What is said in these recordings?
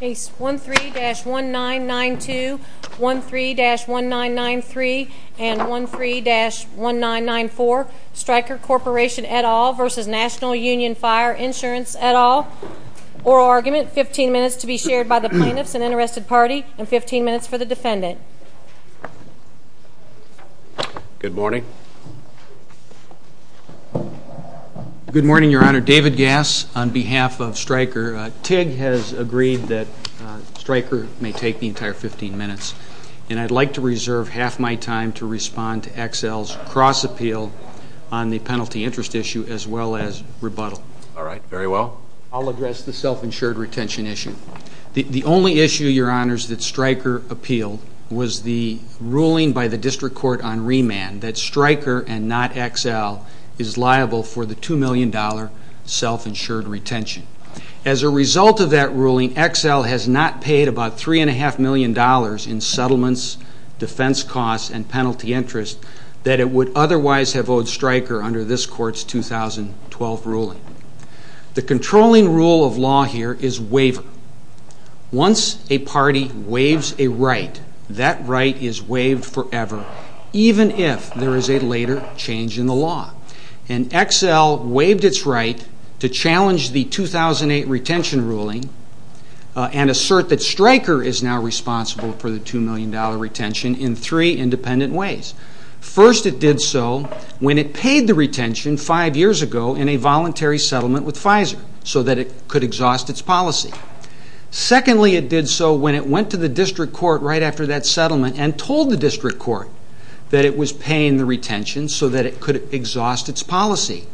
Case 13-1992, 13-1993, and 13-1994, Stryker Corporation et al. v. National Union Fire Insurance et al. Oral argument, 15 minutes to be shared by the plaintiffs and unarrested party, and 15 minutes for the defendant. Good morning. Good morning, Your Honor. David Gass on behalf of Stryker. TIG has agreed that Stryker may take the entire 15 minutes. And I'd like to reserve half my time to respond to XL's cross-appeal on the penalty interest issue as well as rebuttal. All right. Very well. I'll address the self-insured retention issue. The only issue, Your Honors, that Stryker appealed was the ruling by the district court on remand that Stryker and not XL is liable for the $2 million self-insured retention. As a result of that ruling, XL has not paid about $3.5 million in settlements, defense costs, and penalty interest that it would otherwise have owed Stryker under this court's 2012 ruling. The controlling rule of law here is waiver. Once a party waives a right, that right is waived forever, even if there is a later change in the law. And XL waived its right to challenge the 2008 retention ruling and assert that Stryker is now responsible for the $2 million retention in three independent ways. First, it did so when it paid the retention five years ago in a voluntary settlement with Pfizer so that it could exhaust its policy. Secondly, it did so when it went to the district court right after that settlement and told the district court that it was paying the retention so that it could exhaust its policy.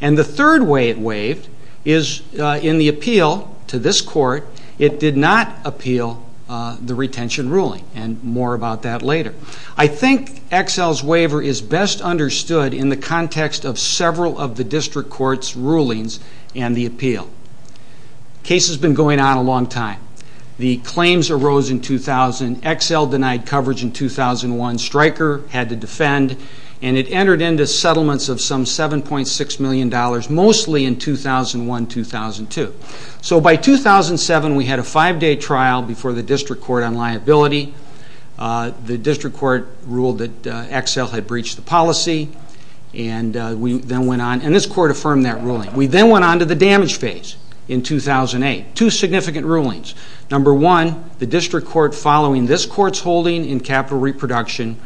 And the third way it waived is in the appeal to this court. It did not appeal the retention ruling. And more about that later. I think XL's waiver is best understood in the context of several of the district court's rulings and the appeal. The case has been going on a long time. The claims arose in 2000. XL denied coverage in 2001. Stryker had to defend. And it entered into settlements of some $7.6 million, mostly in 2001-2002. So by 2007, we had a five-day trial before the district court on liability. The district court ruled that XL had breached the policy. And this court affirmed that ruling. We then went on to the damage phase in 2008. Two significant rulings. Number one, the district court following this court's holding in capital reproduction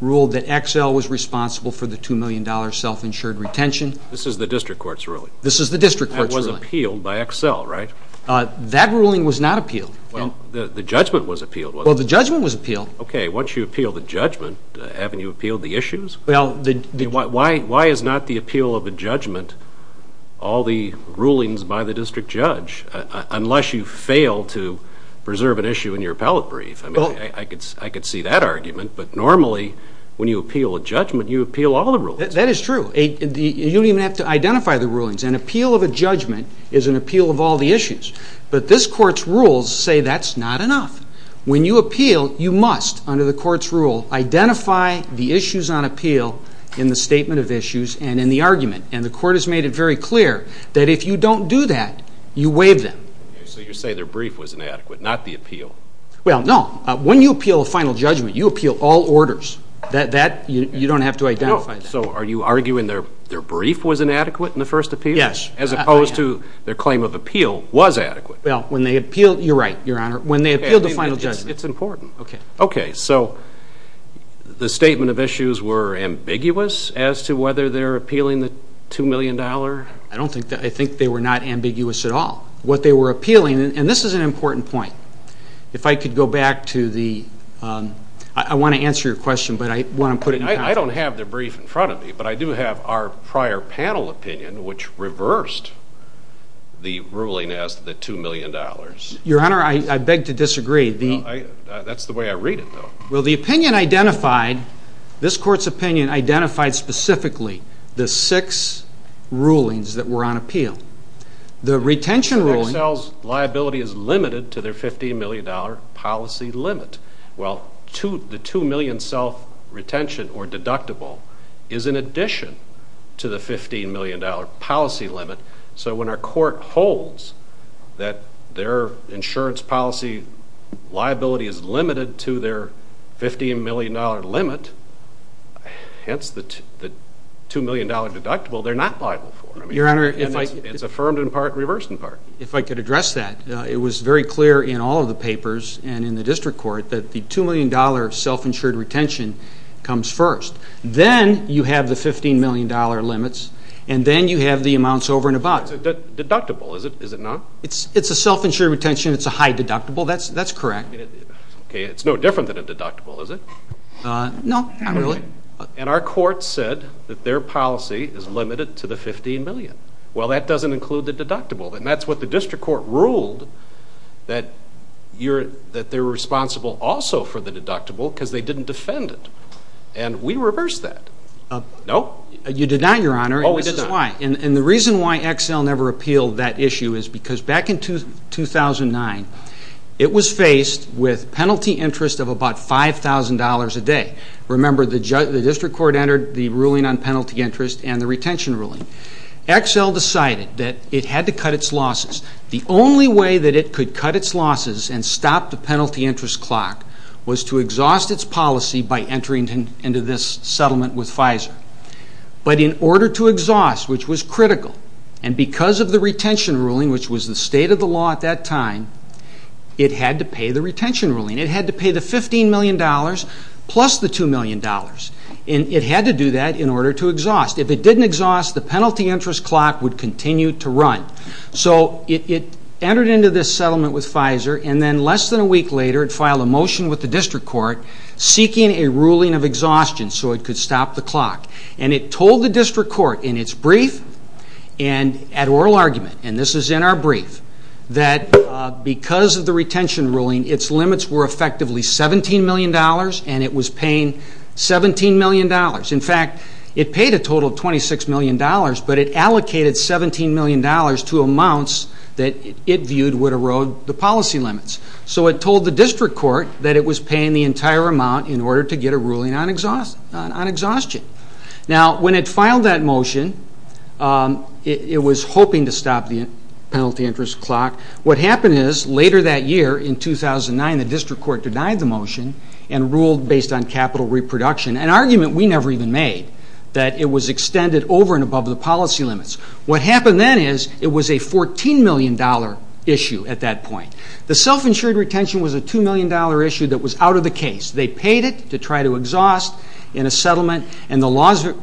ruled that XL was responsible for the $2 million self-insured retention. This is the district court's ruling? This is the district court's ruling. That was appealed by XL, right? Well, the judgment was appealed, wasn't it? Well, the judgment was appealed. Okay, once you appeal the judgment, haven't you appealed the issues? Why is not the appeal of a judgment all the rulings by the district judge, unless you fail to preserve an issue in your appellate brief? I mean, I could see that argument. But normally, when you appeal a judgment, you appeal all the rulings. That is true. You don't even have to identify the rulings. An appeal of a judgment is an appeal of all the issues. But this court's rules say that's not enough. When you appeal, you must, under the court's rule, identify the issues on appeal in the statement of issues and in the argument. And the court has made it very clear that if you don't do that, you waive them. So you're saying their brief was inadequate, not the appeal? Well, no. When you appeal a final judgment, you appeal all orders. You don't have to identify that. So are you arguing their brief was inadequate in the first appeal? Yes. As opposed to their claim of appeal was adequate. Well, when they appeal, you're right, Your Honor. When they appeal the final judgment. It's important. Okay. Okay, so the statement of issues were ambiguous as to whether they're appealing the $2 million? I think they were not ambiguous at all. What they were appealing, and this is an important point. If I could go back to the ‑‑I want to answer your question, but I want to put it in context. I don't have their brief in front of me, but I do have our prior panel opinion, which reversed the ruling as to the $2 million. Your Honor, I beg to disagree. That's the way I read it, though. Well, the opinion identified, this court's opinion identified specifically the six rulings that were on appeal. The retention ruling. Excel's liability is limited to their $15 million policy limit. Well, the $2 million self-retention or deductible is in addition to the $15 million policy limit. So when our court holds that their insurance policy liability is limited to their $15 million limit, hence the $2 million deductible, they're not liable for it. Your Honor. It's affirmed in part and reversed in part. If I could address that. It was very clear in all of the papers and in the district court that the $2 million self-insured retention comes first. Then you have the $15 million limits. And then you have the amounts over and above. It's a deductible, is it not? It's a self-insured retention. It's a high deductible. That's correct. Okay, it's no different than a deductible, is it? No, not really. And our court said that their policy is limited to the $15 million. Well, that doesn't include the deductible. And that's what the district court ruled, that they're responsible also for the deductible because they didn't defend it. And we reversed that. No? You did not, Your Honor. Oh, we did not. And this is why. And the reason why Excel never appealed that issue is because back in 2009, it was faced with penalty interest of about $5,000 a day. Remember, the district court entered the ruling on penalty interest and the retention ruling. Excel decided that it had to cut its losses. The only way that it could cut its losses and stop the penalty interest clock was to exhaust its policy by entering into this settlement with Pfizer. But in order to exhaust, which was critical, and because of the retention ruling, which was the state of the law at that time, it had to pay the retention ruling. It had to pay the $15 million plus the $2 million. And it had to do that in order to exhaust. If it didn't exhaust, the penalty interest clock would continue to run. So it entered into this settlement with Pfizer. And then less than a week later, it filed a motion with the district court seeking a ruling of exhaustion so it could stop the clock. And it told the district court in its brief and at oral argument, and this is in our brief, that because of the retention ruling, its limits were effectively $17 million, and it was paying $17 million. In fact, it paid a total of $26 million, but it allocated $17 million to amounts that it viewed would erode the policy limits. So it told the district court that it was paying the entire amount in order to get a ruling on exhaustion. Now, when it filed that motion, it was hoping to stop the penalty interest clock. What happened is later that year, in 2009, the district court denied the motion and ruled based on capital reproduction, an argument we never even made, that it was extended over and above the policy limits. What happened then is it was a $14 million issue at that point. The self-insured retention was a $2 million issue that was out of the case. They paid it to try to exhaust in a settlement, and the laws were ______.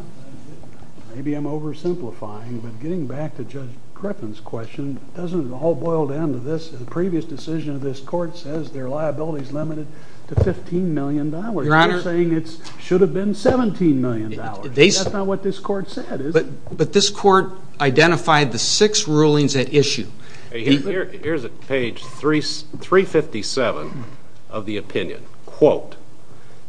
Maybe I'm oversimplifying, but getting back to Judge Crippen's question, doesn't it all boil down to this, the previous decision of this court says their liability is limited to $15 million. You're saying it should have been $17 million. That's not what this court said, is it? But this court identified the six rulings at issue. Here's page 357 of the opinion. Quote,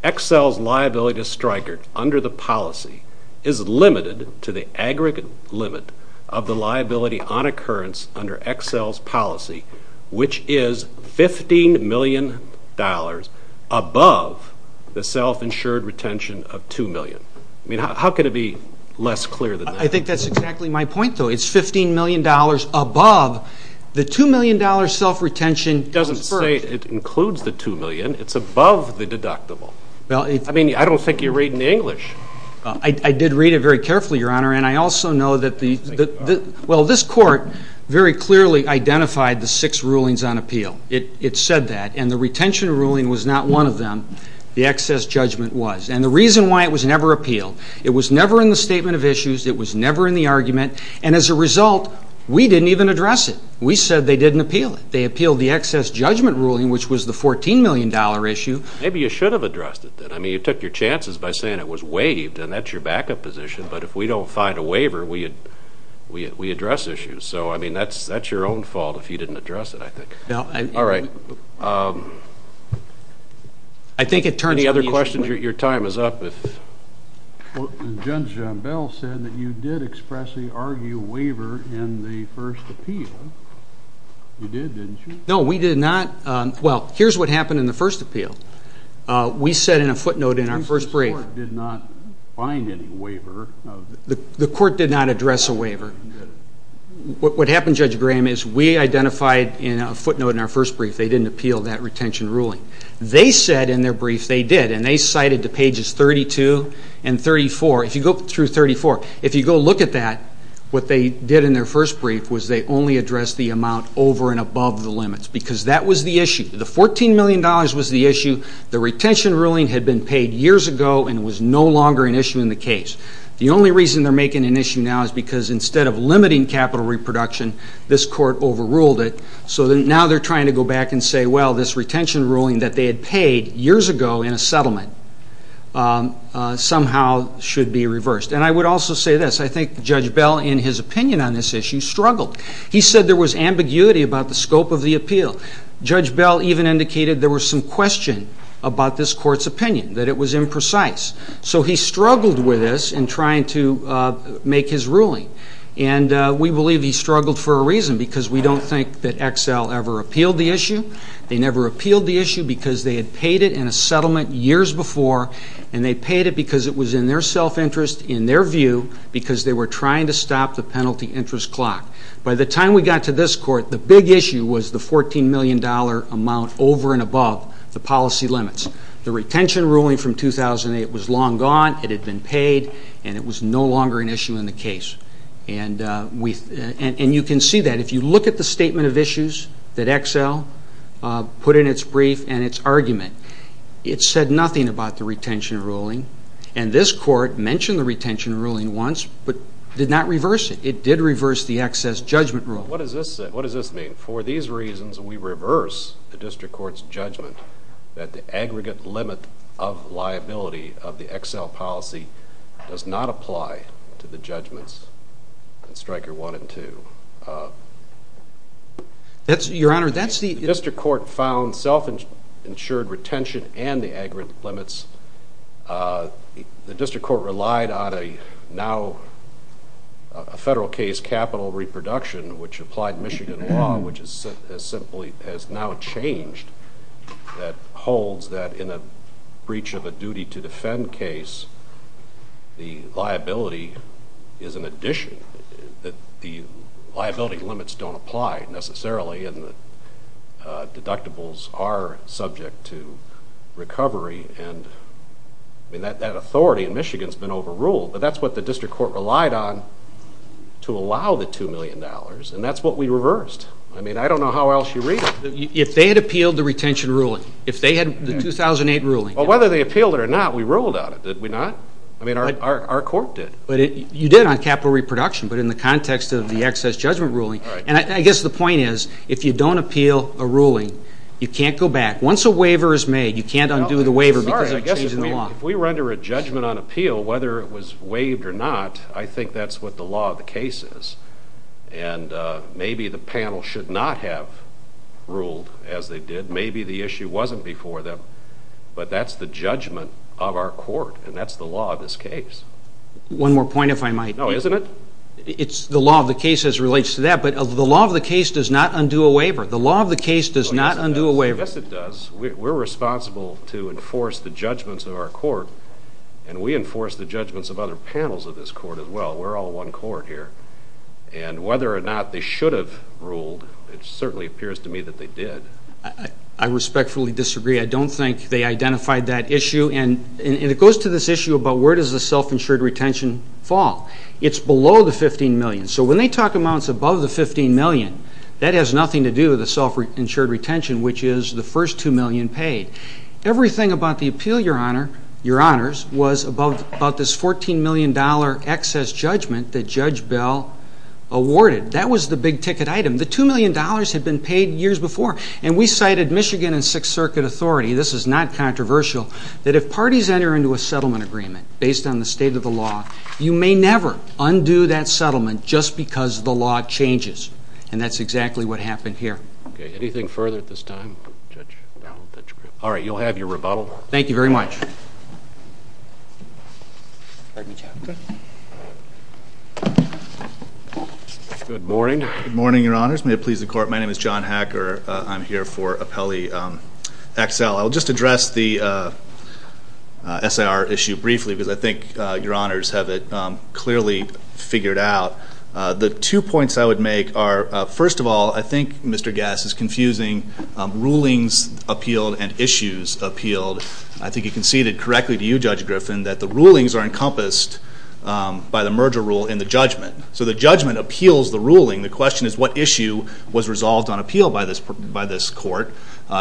Excel's liability to Stryker under the policy is limited to the aggregate limit of the liability on occurrence under Excel's policy, which is $15 million above the self-insured retention of $2 million. I mean, how could it be less clear than that? I think that's exactly my point, though. It's $15 million above. The $2 million self-retention goes first. It doesn't say it includes the $2 million. It's above the deductible. I mean, I don't think you're reading English. I did read it very carefully, Your Honor, and I also know that the ______. Well, this court very clearly identified the six rulings on appeal. It said that, and the retention ruling was not one of them. The excess judgment was. And the reason why it was never appealed, it was never in the statement of issues. It was never in the argument. And as a result, we didn't even address it. We said they didn't appeal it. They appealed the excess judgment ruling, which was the $14 million issue. Maybe you should have addressed it then. I mean, you took your chances by saying it was waived, and that's your backup position. But if we don't find a waiver, we address issues. So, I mean, that's your own fault if you didn't address it, I think. All right. Any other questions? Your time is up. Well, Judge John Bell said that you did expressly argue waiver in the first appeal. You did, didn't you? No, we did not. Well, here's what happened in the first appeal. We said in a footnote in our first brief. The court did not find any waiver. The court did not address a waiver. What happened, Judge Graham, is we identified in a footnote in our first brief, they didn't appeal that retention ruling. They said in their brief they did, and they cited to pages 32 and 34. If you go through 34, if you go look at that, what they did in their first brief was they only addressed the amount over and above the limits because that was the issue. The $14 million was the issue. The retention ruling had been paid years ago, and it was no longer an issue in the case. The only reason they're making an issue now is because instead of limiting capital reproduction, this court overruled it. So now they're trying to go back and say, well, this retention ruling that they had paid years ago in a settlement somehow should be reversed. And I would also say this. I think Judge Bell, in his opinion on this issue, struggled. He said there was ambiguity about the scope of the appeal. Judge Bell even indicated there was some question about this court's opinion, that it was imprecise. So he struggled with this in trying to make his ruling, And we believe he struggled for a reason, because we don't think that Exel ever appealed the issue. They never appealed the issue because they had paid it in a settlement years before, and they paid it because it was in their self-interest, in their view, because they were trying to stop the penalty interest clock. By the time we got to this court, the big issue was the $14 million amount over and above the policy limits. The retention ruling from 2008 was long gone. It had been paid, and it was no longer an issue in the case. And you can see that. If you look at the statement of issues that Exel put in its brief and its argument, it said nothing about the retention ruling. And this court mentioned the retention ruling once but did not reverse it. It did reverse the excess judgment rule. What does this mean? For these reasons, we reverse the district court's judgment that the aggregate limit of liability of the Exel policy does not apply to the judgments in Stryker 1 and 2. Your Honor, that's the The district court found self-insured retention and the aggregate limits. The district court relied on a now federal case, capital reproduction, which applied Michigan law, which has now changed that holds that in a breach of a duty to defend case, the liability is an addition. The liability limits don't apply necessarily, and the deductibles are subject to recovery and that authority in Michigan has been overruled, but that's what the district court relied on to allow the $2 million, and that's what we reversed. I mean, I don't know how else you read it. If they had appealed the retention ruling, if they had the 2008 ruling. Well, whether they appealed it or not, we ruled on it, did we not? I mean, our court did. But you did on capital reproduction, but in the context of the excess judgment ruling. And I guess the point is, if you don't appeal a ruling, you can't go back. Once a waiver is made, you can't undo the waiver because you're changing the law. If we were under a judgment on appeal, whether it was waived or not, I think that's what the law of the case is. And maybe the panel should not have ruled as they did. Maybe the issue wasn't before them, but that's the judgment of our court, and that's the law of this case. One more point, if I might. No, isn't it? It's the law of the case as it relates to that, but the law of the case does not undo a waiver. The law of the case does not undo a waiver. Yes, it does. We're responsible to enforce the judgments of our court, and we enforce the judgments of other panels of this court as well. We're all one court here. And whether or not they should have ruled, it certainly appears to me that they did. I respectfully disagree. I don't think they identified that issue. And it goes to this issue about where does the self-insured retention fall. It's below the $15 million. So when they talk about it's above the $15 million, that has nothing to do with the self-insured retention, which is the first $2 million paid. Everything about the appeal, Your Honors, was about this $14 million excess judgment that Judge Bell awarded. That was the big-ticket item. The $2 million had been paid years before. And we cited Michigan and Sixth Circuit authority, this is not controversial, that if parties enter into a settlement agreement based on the state of the law, you may never undo that settlement just because the law changes. And that's exactly what happened here. Okay. Anything further at this time? All right. You'll have your rebuttal. Thank you very much. Good morning. Good morning, Your Honors. May it please the Court. My name is John Hacker. I'm here for appellee XL. I'll just address the SIR issue briefly because I think Your Honors have it clearly figured out. The two points I would make are, first of all, I think Mr. Gass is confusing rulings appealed and issues appealed. I think you conceded correctly to you, Judge Griffin, that the rulings are encompassed by the merger rule in the judgment. So the judgment appeals the ruling. The question is what issue was resolved on appeal by this court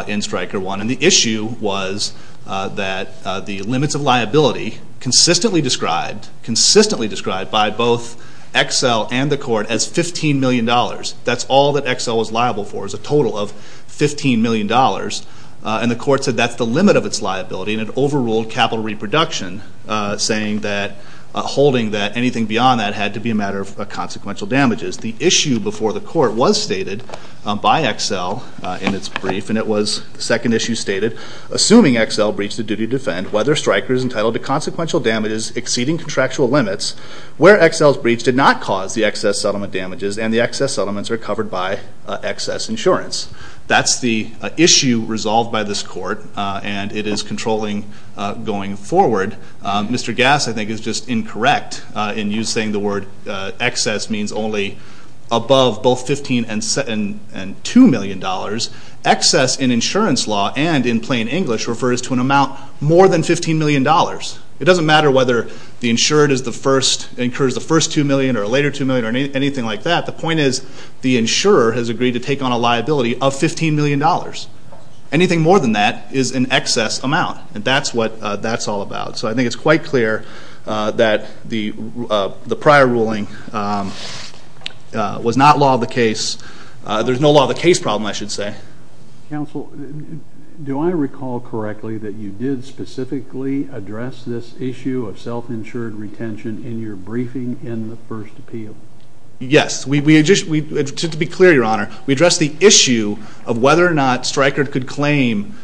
in Stryker 1. And the issue was that the limits of liability consistently described, by both XL and the court, as $15 million. That's all that XL was liable for is a total of $15 million. And the court said that's the limit of its liability, and it overruled capital reproduction, holding that anything beyond that had to be a matter of consequential damages. The issue before the court was stated by XL in its brief, and it was the second issue stated, assuming XL breached the duty to defend, whether Stryker is entitled to consequential damages exceeding contractual limits, where XL's breach did not cause the excess settlement damages, and the excess settlements are covered by excess insurance. That's the issue resolved by this court, and it is controlling going forward. Mr. Gass, I think, is just incorrect in you saying the word excess means only above both $15 and $2 million. Excess, in insurance law and in plain English, refers to an amount more than $15 million. It doesn't matter whether the insured incurs the first $2 million or a later $2 million or anything like that. The point is the insurer has agreed to take on a liability of $15 million. Anything more than that is an excess amount, and that's what that's all about. So I think it's quite clear that the prior ruling was not law of the case. There's no law of the case problem, I should say. Counsel, do I recall correctly that you did specifically address this issue of self-insured retention in your briefing in the first appeal? Yes. To be clear, Your Honor, we addressed the issue of whether or not Stryker could claim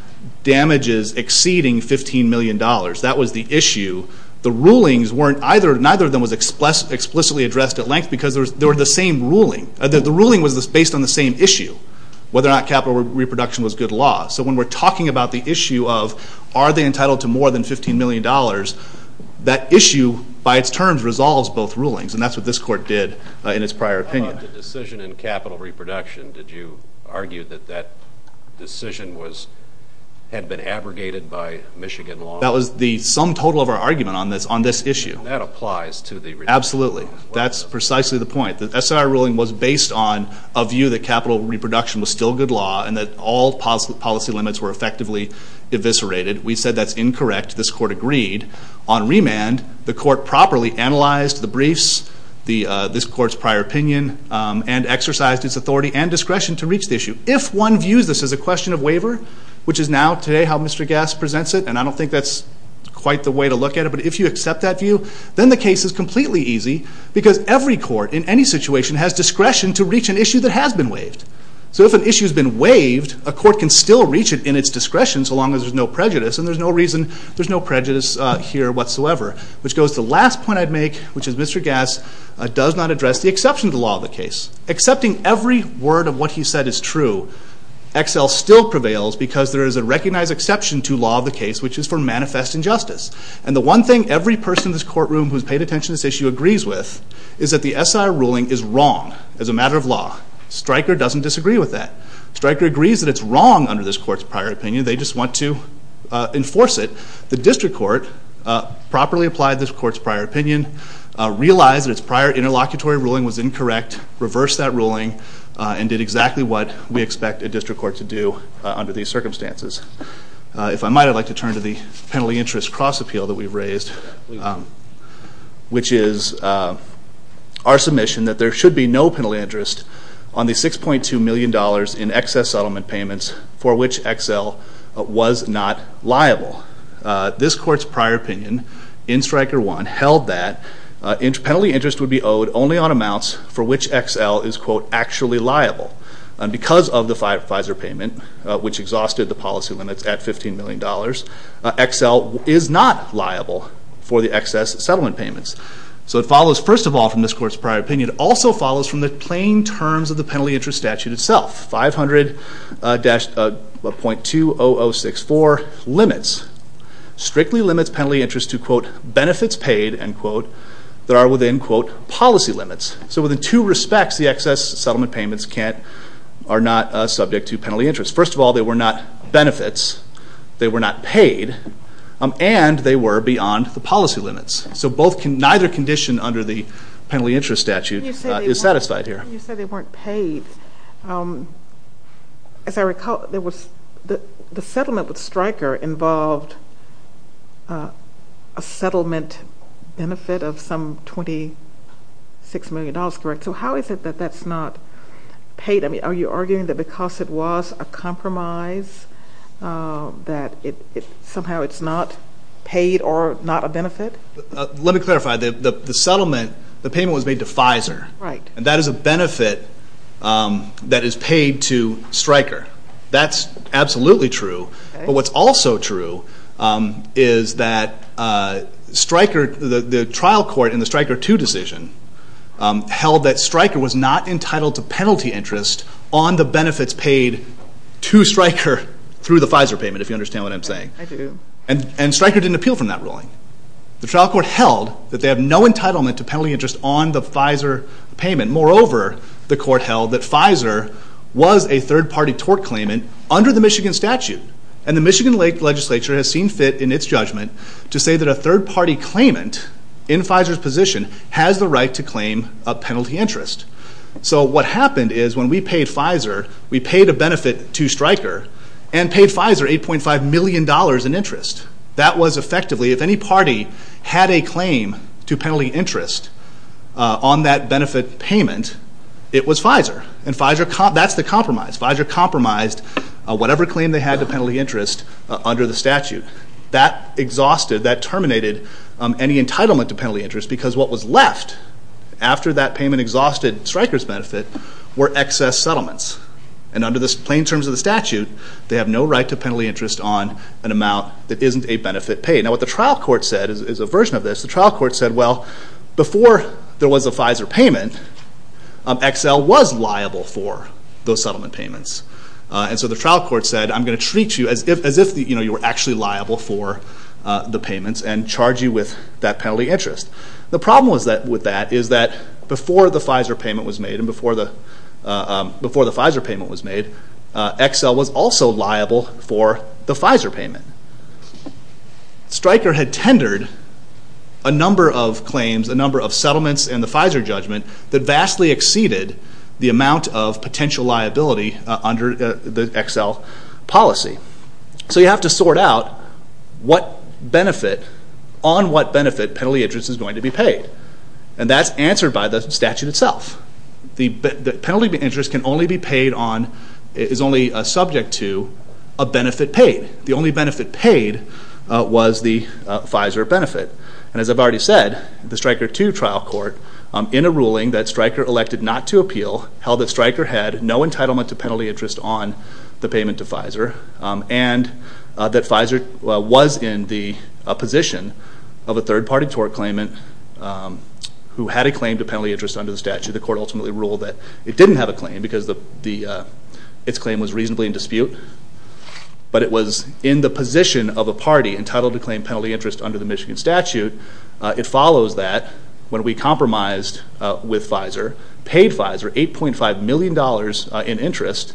damages exceeding $15 million. That was the issue. The rulings, neither of them was explicitly addressed at length because they were the same ruling. The ruling was based on the same issue, whether or not capital reproduction was good law. So when we're talking about the issue of are they entitled to more than $15 million, that issue, by its terms, resolves both rulings, and that's what this court did in its prior opinion. The decision in capital reproduction, did you argue that that decision had been abrogated by Michigan law? That was the sum total of our argument on this issue. That applies to the reproduction as well? Absolutely. That's precisely the point. The SIR ruling was based on a view that capital reproduction was still good law and that all policy limits were effectively eviscerated. We said that's incorrect. This court agreed. On remand, the court properly analyzed the briefs, this court's prior opinion, and exercised its authority and discretion to reach the issue. If one views this as a question of waiver, which is now, today, how Mr. Gass presents it, and I don't think that's quite the way to look at it, but if you accept that view, then the case is completely easy because every court, in any situation, has discretion to reach an issue that has been waived. So if an issue has been waived, a court can still reach it in its discretion, so long as there's no prejudice, and there's no reason, there's no prejudice here whatsoever. Which goes to the last point I'd make, which is Mr. Gass does not address the exception to the law of the case. Accepting every word of what he said is true, Excel still prevails because there is a recognized exception to law of the case, which is for manifest injustice. And the one thing every person in this courtroom who's paid attention to this issue agrees with is that the SIR ruling is wrong as a matter of law. Stryker doesn't disagree with that. Stryker agrees that it's wrong under this court's prior opinion, they just want to enforce it. The district court properly applied this court's prior opinion, realized that its prior interlocutory ruling was incorrect, reversed that ruling, and did exactly what we expect a district court to do under these circumstances. If I might, I'd like to turn to the penalty interest cross-appeal that we've raised, which is our submission that there should be no penalty interest on the $6.2 million in excess settlement payments for which Excel was not liable. This court's prior opinion in Stryker 1 held that penalty interest would be owed only on amounts for which Excel is, quote, actually liable. And because of the Pfizer payment, which exhausted the policy limits at $15 million, Excel is not liable for the excess settlement payments. So it follows, first of all, from this court's prior opinion, it also follows from the plain terms of the penalty interest statute itself. 500.20064 limits, strictly limits penalty interest to, quote, benefits paid, end quote, that are within, quote, policy limits. So within two respects, the excess settlement payments are not subject to penalty interest. First of all, they were not benefits. They were not paid. And they were beyond the policy limits. So neither condition under the penalty interest statute is satisfied here. You said they weren't paid. As I recall, the settlement with Stryker involved a settlement benefit of some $26 million, correct? So how is it that that's not paid? Are you arguing that because it was a compromise that somehow it's not paid or not a benefit? Let me clarify. The settlement, the payment was made to Pfizer. Right. And that is a benefit that is paid to Stryker. That's absolutely true. But what's also true is that Stryker, the trial court in the Stryker 2 decision held that Stryker was not entitled to penalty interest on the benefits paid to Stryker through the Pfizer payment, if you understand what I'm saying. I do. And Stryker didn't appeal from that ruling. The trial court held that they have no entitlement to penalty interest on the Pfizer payment. Moreover, the court held that Pfizer was a third-party tort claimant under the Michigan statute. And the Michigan legislature has seen fit in its judgment to say that a third-party claimant in Pfizer's position has the right to claim a penalty interest. So what happened is when we paid Pfizer, we paid a benefit to Stryker and paid Pfizer $8.5 million in interest. That was effectively, if any party had a claim to penalty interest on that benefit payment, it was Pfizer. And that's the compromise. Pfizer compromised whatever claim they had to penalty interest under the statute. That exhausted, that terminated any entitlement to penalty interest because what was left after that payment exhausted Stryker's benefit were excess settlements. And under the plain terms of the statute, they have no right to penalty interest on an amount that isn't a benefit paid. Now what the trial court said is a version of this. The trial court said, well, before there was a Pfizer payment, Excel was liable for those settlement payments. And so the trial court said, I'm going to treat you as if you were actually liable for the payments and charge you with that penalty interest. The problem with that is that before the Pfizer payment was made, and before the Pfizer payment was made, Excel was also liable for the Pfizer payment. Stryker had tendered a number of claims, a number of settlements in the Pfizer judgment that vastly exceeded the amount of potential liability under the Excel policy. So you have to sort out what benefit, on what benefit penalty interest is going to be paid. And that's answered by the statute itself. The penalty interest can only be paid on, is only subject to a benefit paid. The only benefit paid was the Pfizer benefit. And as I've already said, the Stryker 2 trial court, in a ruling that Stryker elected not to appeal, held that Stryker had no entitlement to penalty interest on the payment to Pfizer, and that Pfizer was in the position of a third-party tort claimant who had a claim to penalty interest under the statute. The court ultimately ruled that it didn't have a claim because its claim was reasonably in dispute. But it was in the position of a party entitled to claim It follows that when we compromised with Pfizer, paid Pfizer, $8.5 million in interest,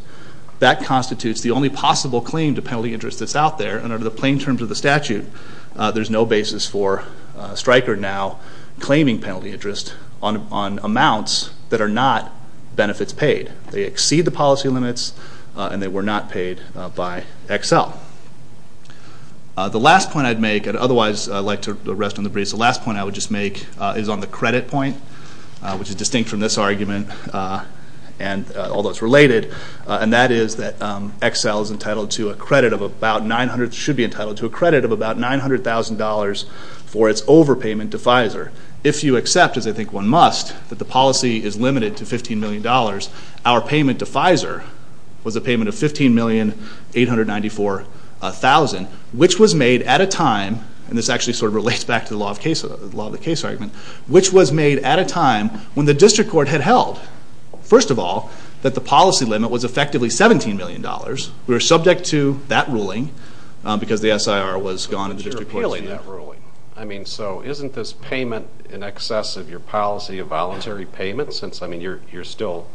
that constitutes the only possible claim to penalty interest that's out there, and under the plain terms of the statute, there's no basis for Stryker now claiming penalty interest on amounts that are not benefits paid. They exceed the policy limits, and they were not paid by Excel. The last point I'd make, and otherwise I'd like to rest on the breeze, the last point I would just make is on the credit point, which is distinct from this argument, although it's related, and that is that Excel should be entitled to a credit of about $900,000 for its overpayment to Pfizer. If you accept, as I think one must, that the policy is limited to $15 million, our payment to Pfizer was a payment of $15,894,000, which was made at a time, and this actually sort of relates back to the law of the case argument, which was made at a time when the district court had held, first of all, that the policy limit was effectively $17 million. We were subject to that ruling because the SIR was gone in the district court. But you're appealing that ruling. I mean, so isn't this payment in excess of your policy a voluntary payment since, I mean, it's still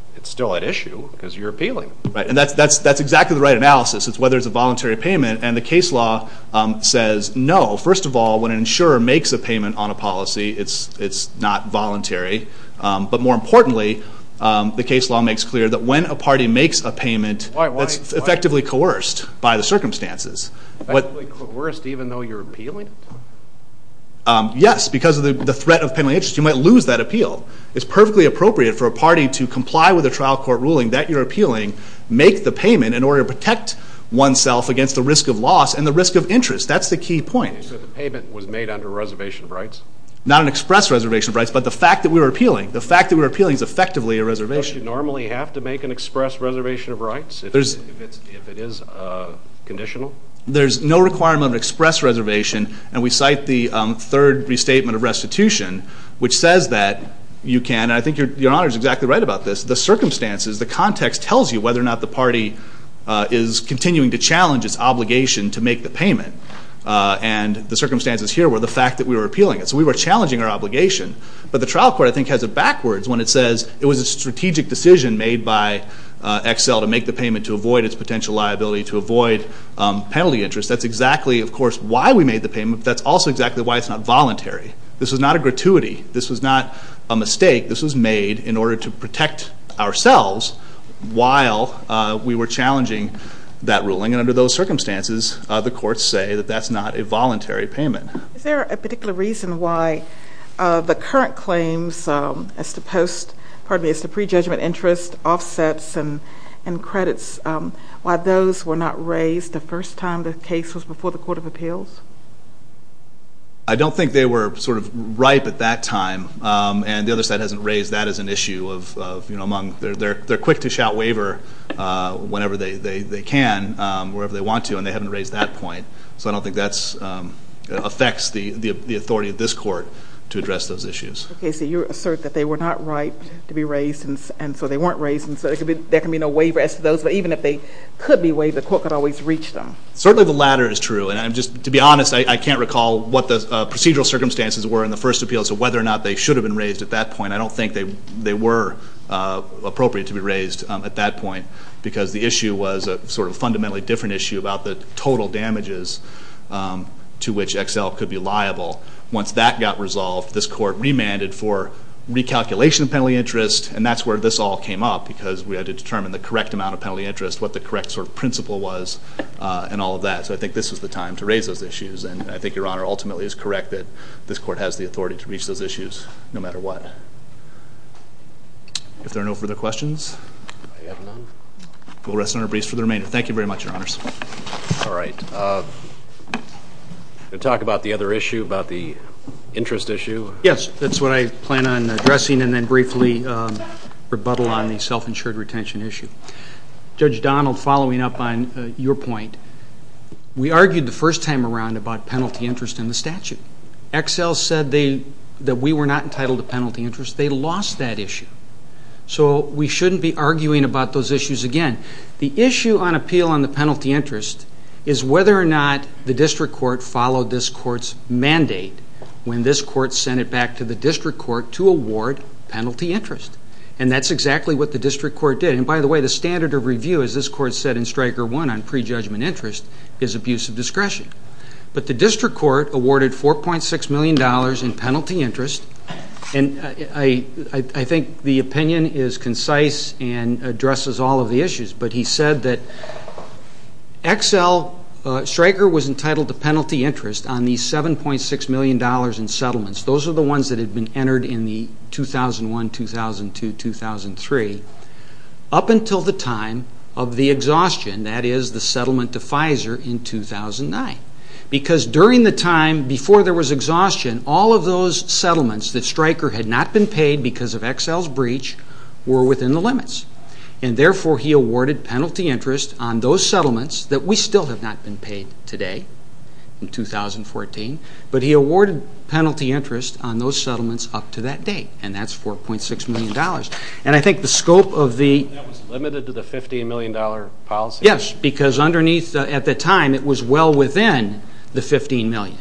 at issue because you're appealing. Right, and that's exactly the right analysis. It's whether it's a voluntary payment, First of all, when an insurer makes a payment on a policy, it's not voluntary. But more importantly, the case law makes clear that when a party makes a payment, it's effectively coerced by the circumstances. Effectively coerced even though you're appealing it? Yes, because of the threat of pending interest. You might lose that appeal. It's perfectly appropriate for a party to comply with a trial court ruling that you're appealing, make the payment in order to protect oneself against the risk of loss and the risk of interest. That's the key point. So the payment was made under reservation of rights? Not an express reservation of rights, but the fact that we were appealing. The fact that we were appealing is effectively a reservation. Don't you normally have to make an express reservation of rights if it is conditional? There's no requirement of an express reservation. And we cite the third restatement of restitution, which says that you can, and I think Your Honor is exactly right about this, the circumstances, the context tells you whether or not the party is continuing to challenge its obligation to make the payment. And the circumstances here were the fact that we were appealing it. So we were challenging our obligation. But the trial court, I think, has it backwards when it says it was a strategic decision made by Excel to make the payment to avoid its potential liability, to avoid penalty interest. That's exactly, of course, why we made the payment, but that's also exactly why it's not voluntary. This was not a gratuity. This was not a mistake. This was made in order to protect ourselves while we were challenging that ruling. And under those circumstances, the courts say that that's not a voluntary payment. Is there a particular reason why the current claims as to pre-judgment interest offsets and credits, why those were not raised the first time the case was before the Court of Appeals? I don't think they were sort of ripe at that time. And the other side hasn't raised that as an issue. They're quick to shout waiver whenever they can, wherever they want to, and they haven't raised that point. So I don't think that affects the authority of this court to address those issues. Okay, so you assert that they were not ripe to be raised, and so they weren't raised, and so there can be no waiver as to those, but even if they could be waived, the court could always reach them. Certainly the latter is true. And just to be honest, I can't recall what the procedural circumstances were in the first appeal as to whether or not they should have been raised at that point. I don't think they were appropriate to be raised at that point because the issue was a sort of fundamentally different issue about the total damages to which XL could be liable. Once that got resolved, this court remanded for recalculation of penalty interest, and that's where this all came up because we had to determine the correct amount of penalty interest, what the correct sort of principle was, and all of that. So I think this was the time to raise those issues, and I think Your Honor ultimately is correct that this court has the authority to reach those issues no matter what. If there are no further questions? I have none. We'll rest on our briefs for the remainder. Thank you very much, Your Honors. All right. We're going to talk about the other issue, about the interest issue. Yes, that's what I plan on addressing and then briefly rebuttal on the self-insured retention issue. Judge Donald, following up on your point, we argued the first time around about penalty interest in the statute. XL said that we were not entitled to penalty interest. They lost that issue. So we shouldn't be arguing about those issues again. The issue on appeal on the penalty interest is whether or not the district court followed this court's mandate when this court sent it back to the district court to award penalty interest, and that's exactly what the district court did. And by the way, the standard of review, as this court said in Stryker 1, on prejudgment interest is abuse of discretion. But the district court awarded $4.6 million in penalty interest, and I think the opinion is concise and addresses all of the issues. But he said that XL, Stryker was entitled to penalty interest on the $7.6 million in settlements. Those are the ones that had been entered in the 2001, 2002, 2003, up until the time of the exhaustion, that is, the settlement to Pfizer in 2009. Because during the time before there was exhaustion, all of those settlements that Stryker had not been paid because of XL's breach were within the limits, and therefore he awarded penalty interest on those settlements that we still have not been paid today in 2014, but he awarded penalty interest on those settlements up to that date, and that's $4.6 million. And I think the scope of the... That was limited to the $15 million policy? Yes, because underneath, at the time, it was well within the $15 million,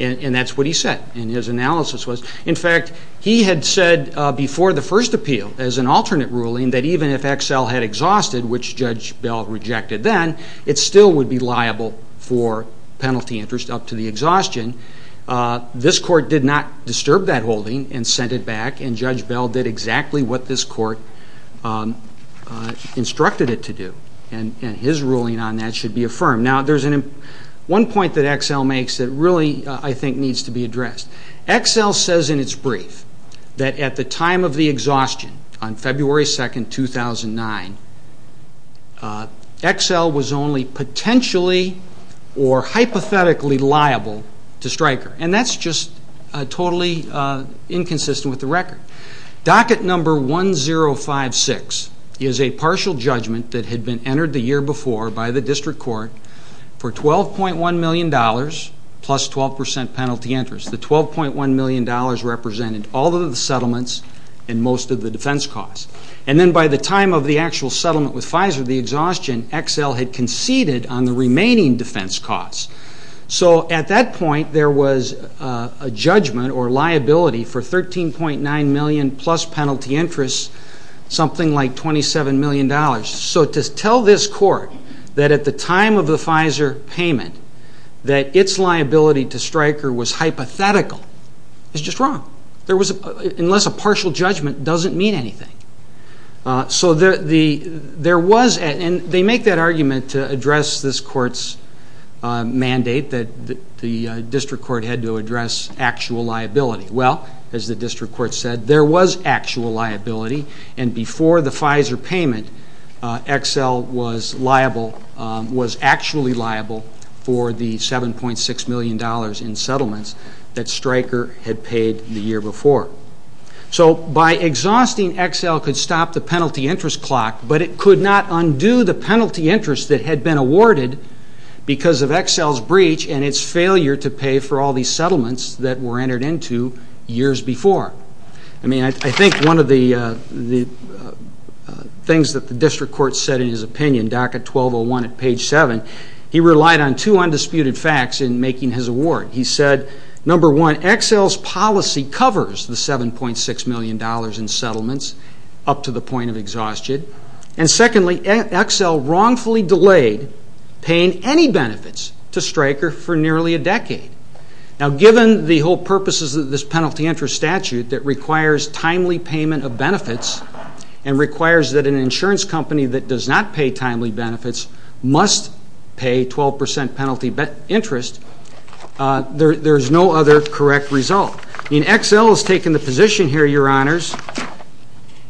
and that's what he said, and his analysis was. In fact, he had said before the first appeal, as an alternate ruling, that even if XL had exhausted, which Judge Bell rejected then, it still would be liable for penalty interest up to the exhaustion. This court did not disturb that holding and sent it back, and Judge Bell did exactly what this court instructed it to do, and his ruling on that should be affirmed. Now, there's one point that XL makes that really, I think, needs to be addressed. XL says in its brief that at the time of the exhaustion, on February 2, 2009, XL was only potentially or hypothetically liable to Stryker, and that's just totally inconsistent with the record. Docket number 1056 is a partial judgment that had been entered the year before by the district court for $12.1 million plus 12% penalty interest. The $12.1 million represented all of the settlements and most of the defense costs. And then by the time of the actual settlement with Pfizer, the exhaustion, XL had conceded on the remaining defense costs. So at that point, there was a judgment or liability for $13.9 million plus penalty interest, something like $27 million. So to tell this court that at the time of the Pfizer payment that its liability to Stryker was hypothetical is just wrong, unless a partial judgment doesn't mean anything. And they make that argument to address this court's mandate that the district court had to address actual liability. Well, as the district court said, there was actual liability, and before the Pfizer payment, XL was liable, was actually liable for the $7.6 million in settlements that Stryker had paid the year before. So by exhausting, XL could stop the penalty interest clock, but it could not undo the penalty interest that had been awarded because of XL's breach and its failure to pay for all these settlements that were entered into years before. I mean, I think one of the things that the district court said in his opinion, docket 1201 at page 7, he relied on two undisputed facts in making his award. He said, number one, XL's policy covers the $7.6 million in settlements up to the point of exhaustion, and secondly, XL wrongfully delayed paying any benefits to Stryker for nearly a decade. Now, given the whole purposes of this penalty interest statute that requires timely payment of benefits and requires that an insurance company that does not pay timely benefits must pay 12% penalty interest, there is no other correct result. I mean, XL has taken the position here, Your Honors,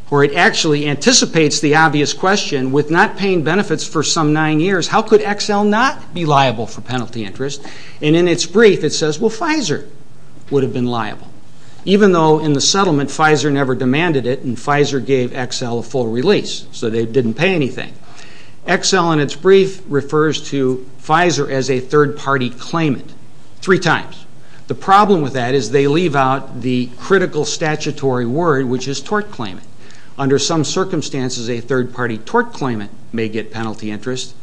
where it actually anticipates the obvious question, with not paying benefits for some nine years, how could XL not be liable for penalty interest? Even though in the settlement, Pfizer never demanded it, and Pfizer gave XL a full release, so they didn't pay anything. XL, in its brief, refers to Pfizer as a third-party claimant three times. The problem with that is they leave out the critical statutory word, which is tort claimant. Under some circumstances, a third-party tort claimant may get penalty interest,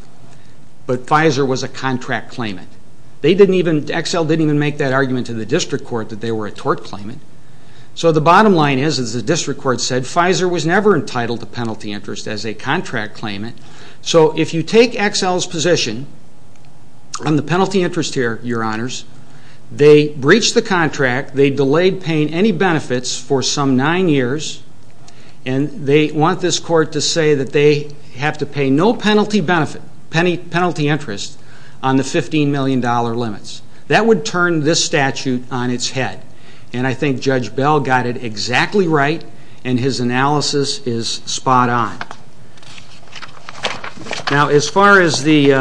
but Pfizer was a contract claimant. XL didn't even make that argument to the district court that they were a tort claimant. So the bottom line is, as the district court said, Pfizer was never entitled to penalty interest as a contract claimant. So if you take XL's position on the penalty interest here, Your Honors, they breached the contract, they delayed paying any benefits for some nine years, and they want this court to say that they have to pay no penalty interest on the $15 million limits. That would turn this statute on its head, and I think Judge Bell got it exactly right, and his analysis is spot on. Now, as far as the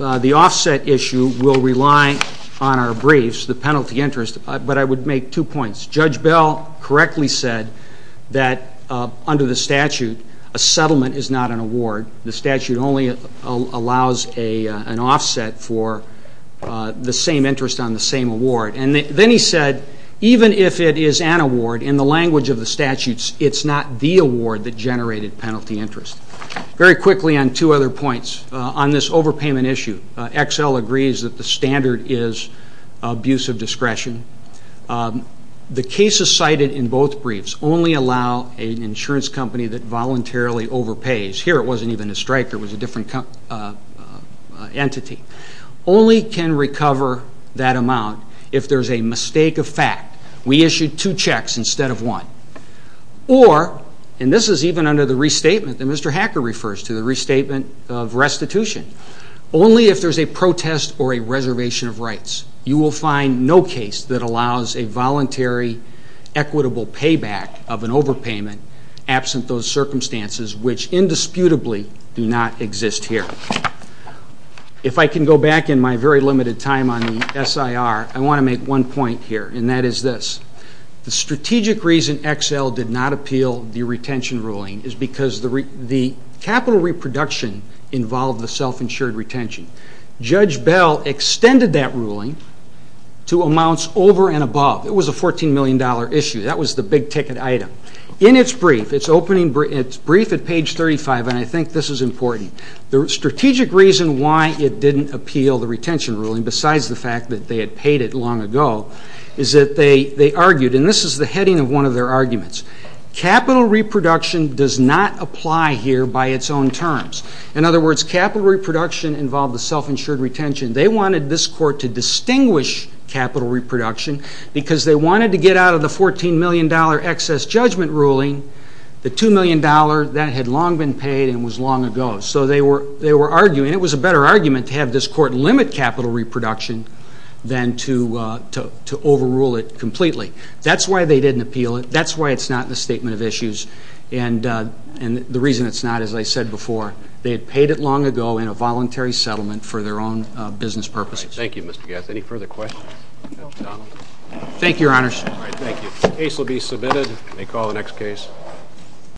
offset issue, we'll rely on our briefs, the penalty interest, but I would make two points. Judge Bell correctly said that under the statute, a settlement is not an award. The statute only allows an offset for the same interest on the same award. And then he said, even if it is an award, in the language of the statutes, it's not the award that generated penalty interest. Very quickly on two other points. On this overpayment issue, XL agrees that the standard is abuse of discretion. The cases cited in both briefs only allow an insurance company that voluntarily overpays. Here it wasn't even a striker, it was a different entity. Only can recover that amount if there's a mistake of fact. We issued two checks instead of one. Or, and this is even under the restatement that Mr. Hacker refers to, the restatement of restitution. Only if there's a protest or a reservation of rights, you will find no case that allows a voluntary equitable payback of an overpayment absent those circumstances which indisputably do not exist here. If I can go back in my very limited time on the SIR, I want to make one point here, and that is this. The strategic reason XL did not appeal the retention ruling is because the capital reproduction involved the self-insured retention. Judge Bell extended that ruling to amounts over and above. It was a $14 million issue. That was the big ticket item. In its brief, it's opening, it's brief at page 35, and I think this is important. The strategic reason why it didn't appeal the retention ruling, besides the fact that they had paid it long ago, is that they argued, and this is the heading of one of their arguments, capital reproduction does not apply here by its own terms. In other words, capital reproduction involved the self-insured retention. They wanted this court to distinguish capital reproduction because they wanted to get out of the $14 million excess judgment ruling the $2 million that had long been paid and was long ago. So they were arguing it was a better argument to have this court limit capital reproduction than to overrule it completely. That's why they didn't appeal it. That's why it's not in the statement of issues. And the reason it's not, as I said before, they had paid it long ago in a voluntary settlement for their own business purposes. Thank you, Mr. Gatz. Any further questions? Thank you, Your Honors. All right, thank you. Case will be submitted. May call the next case.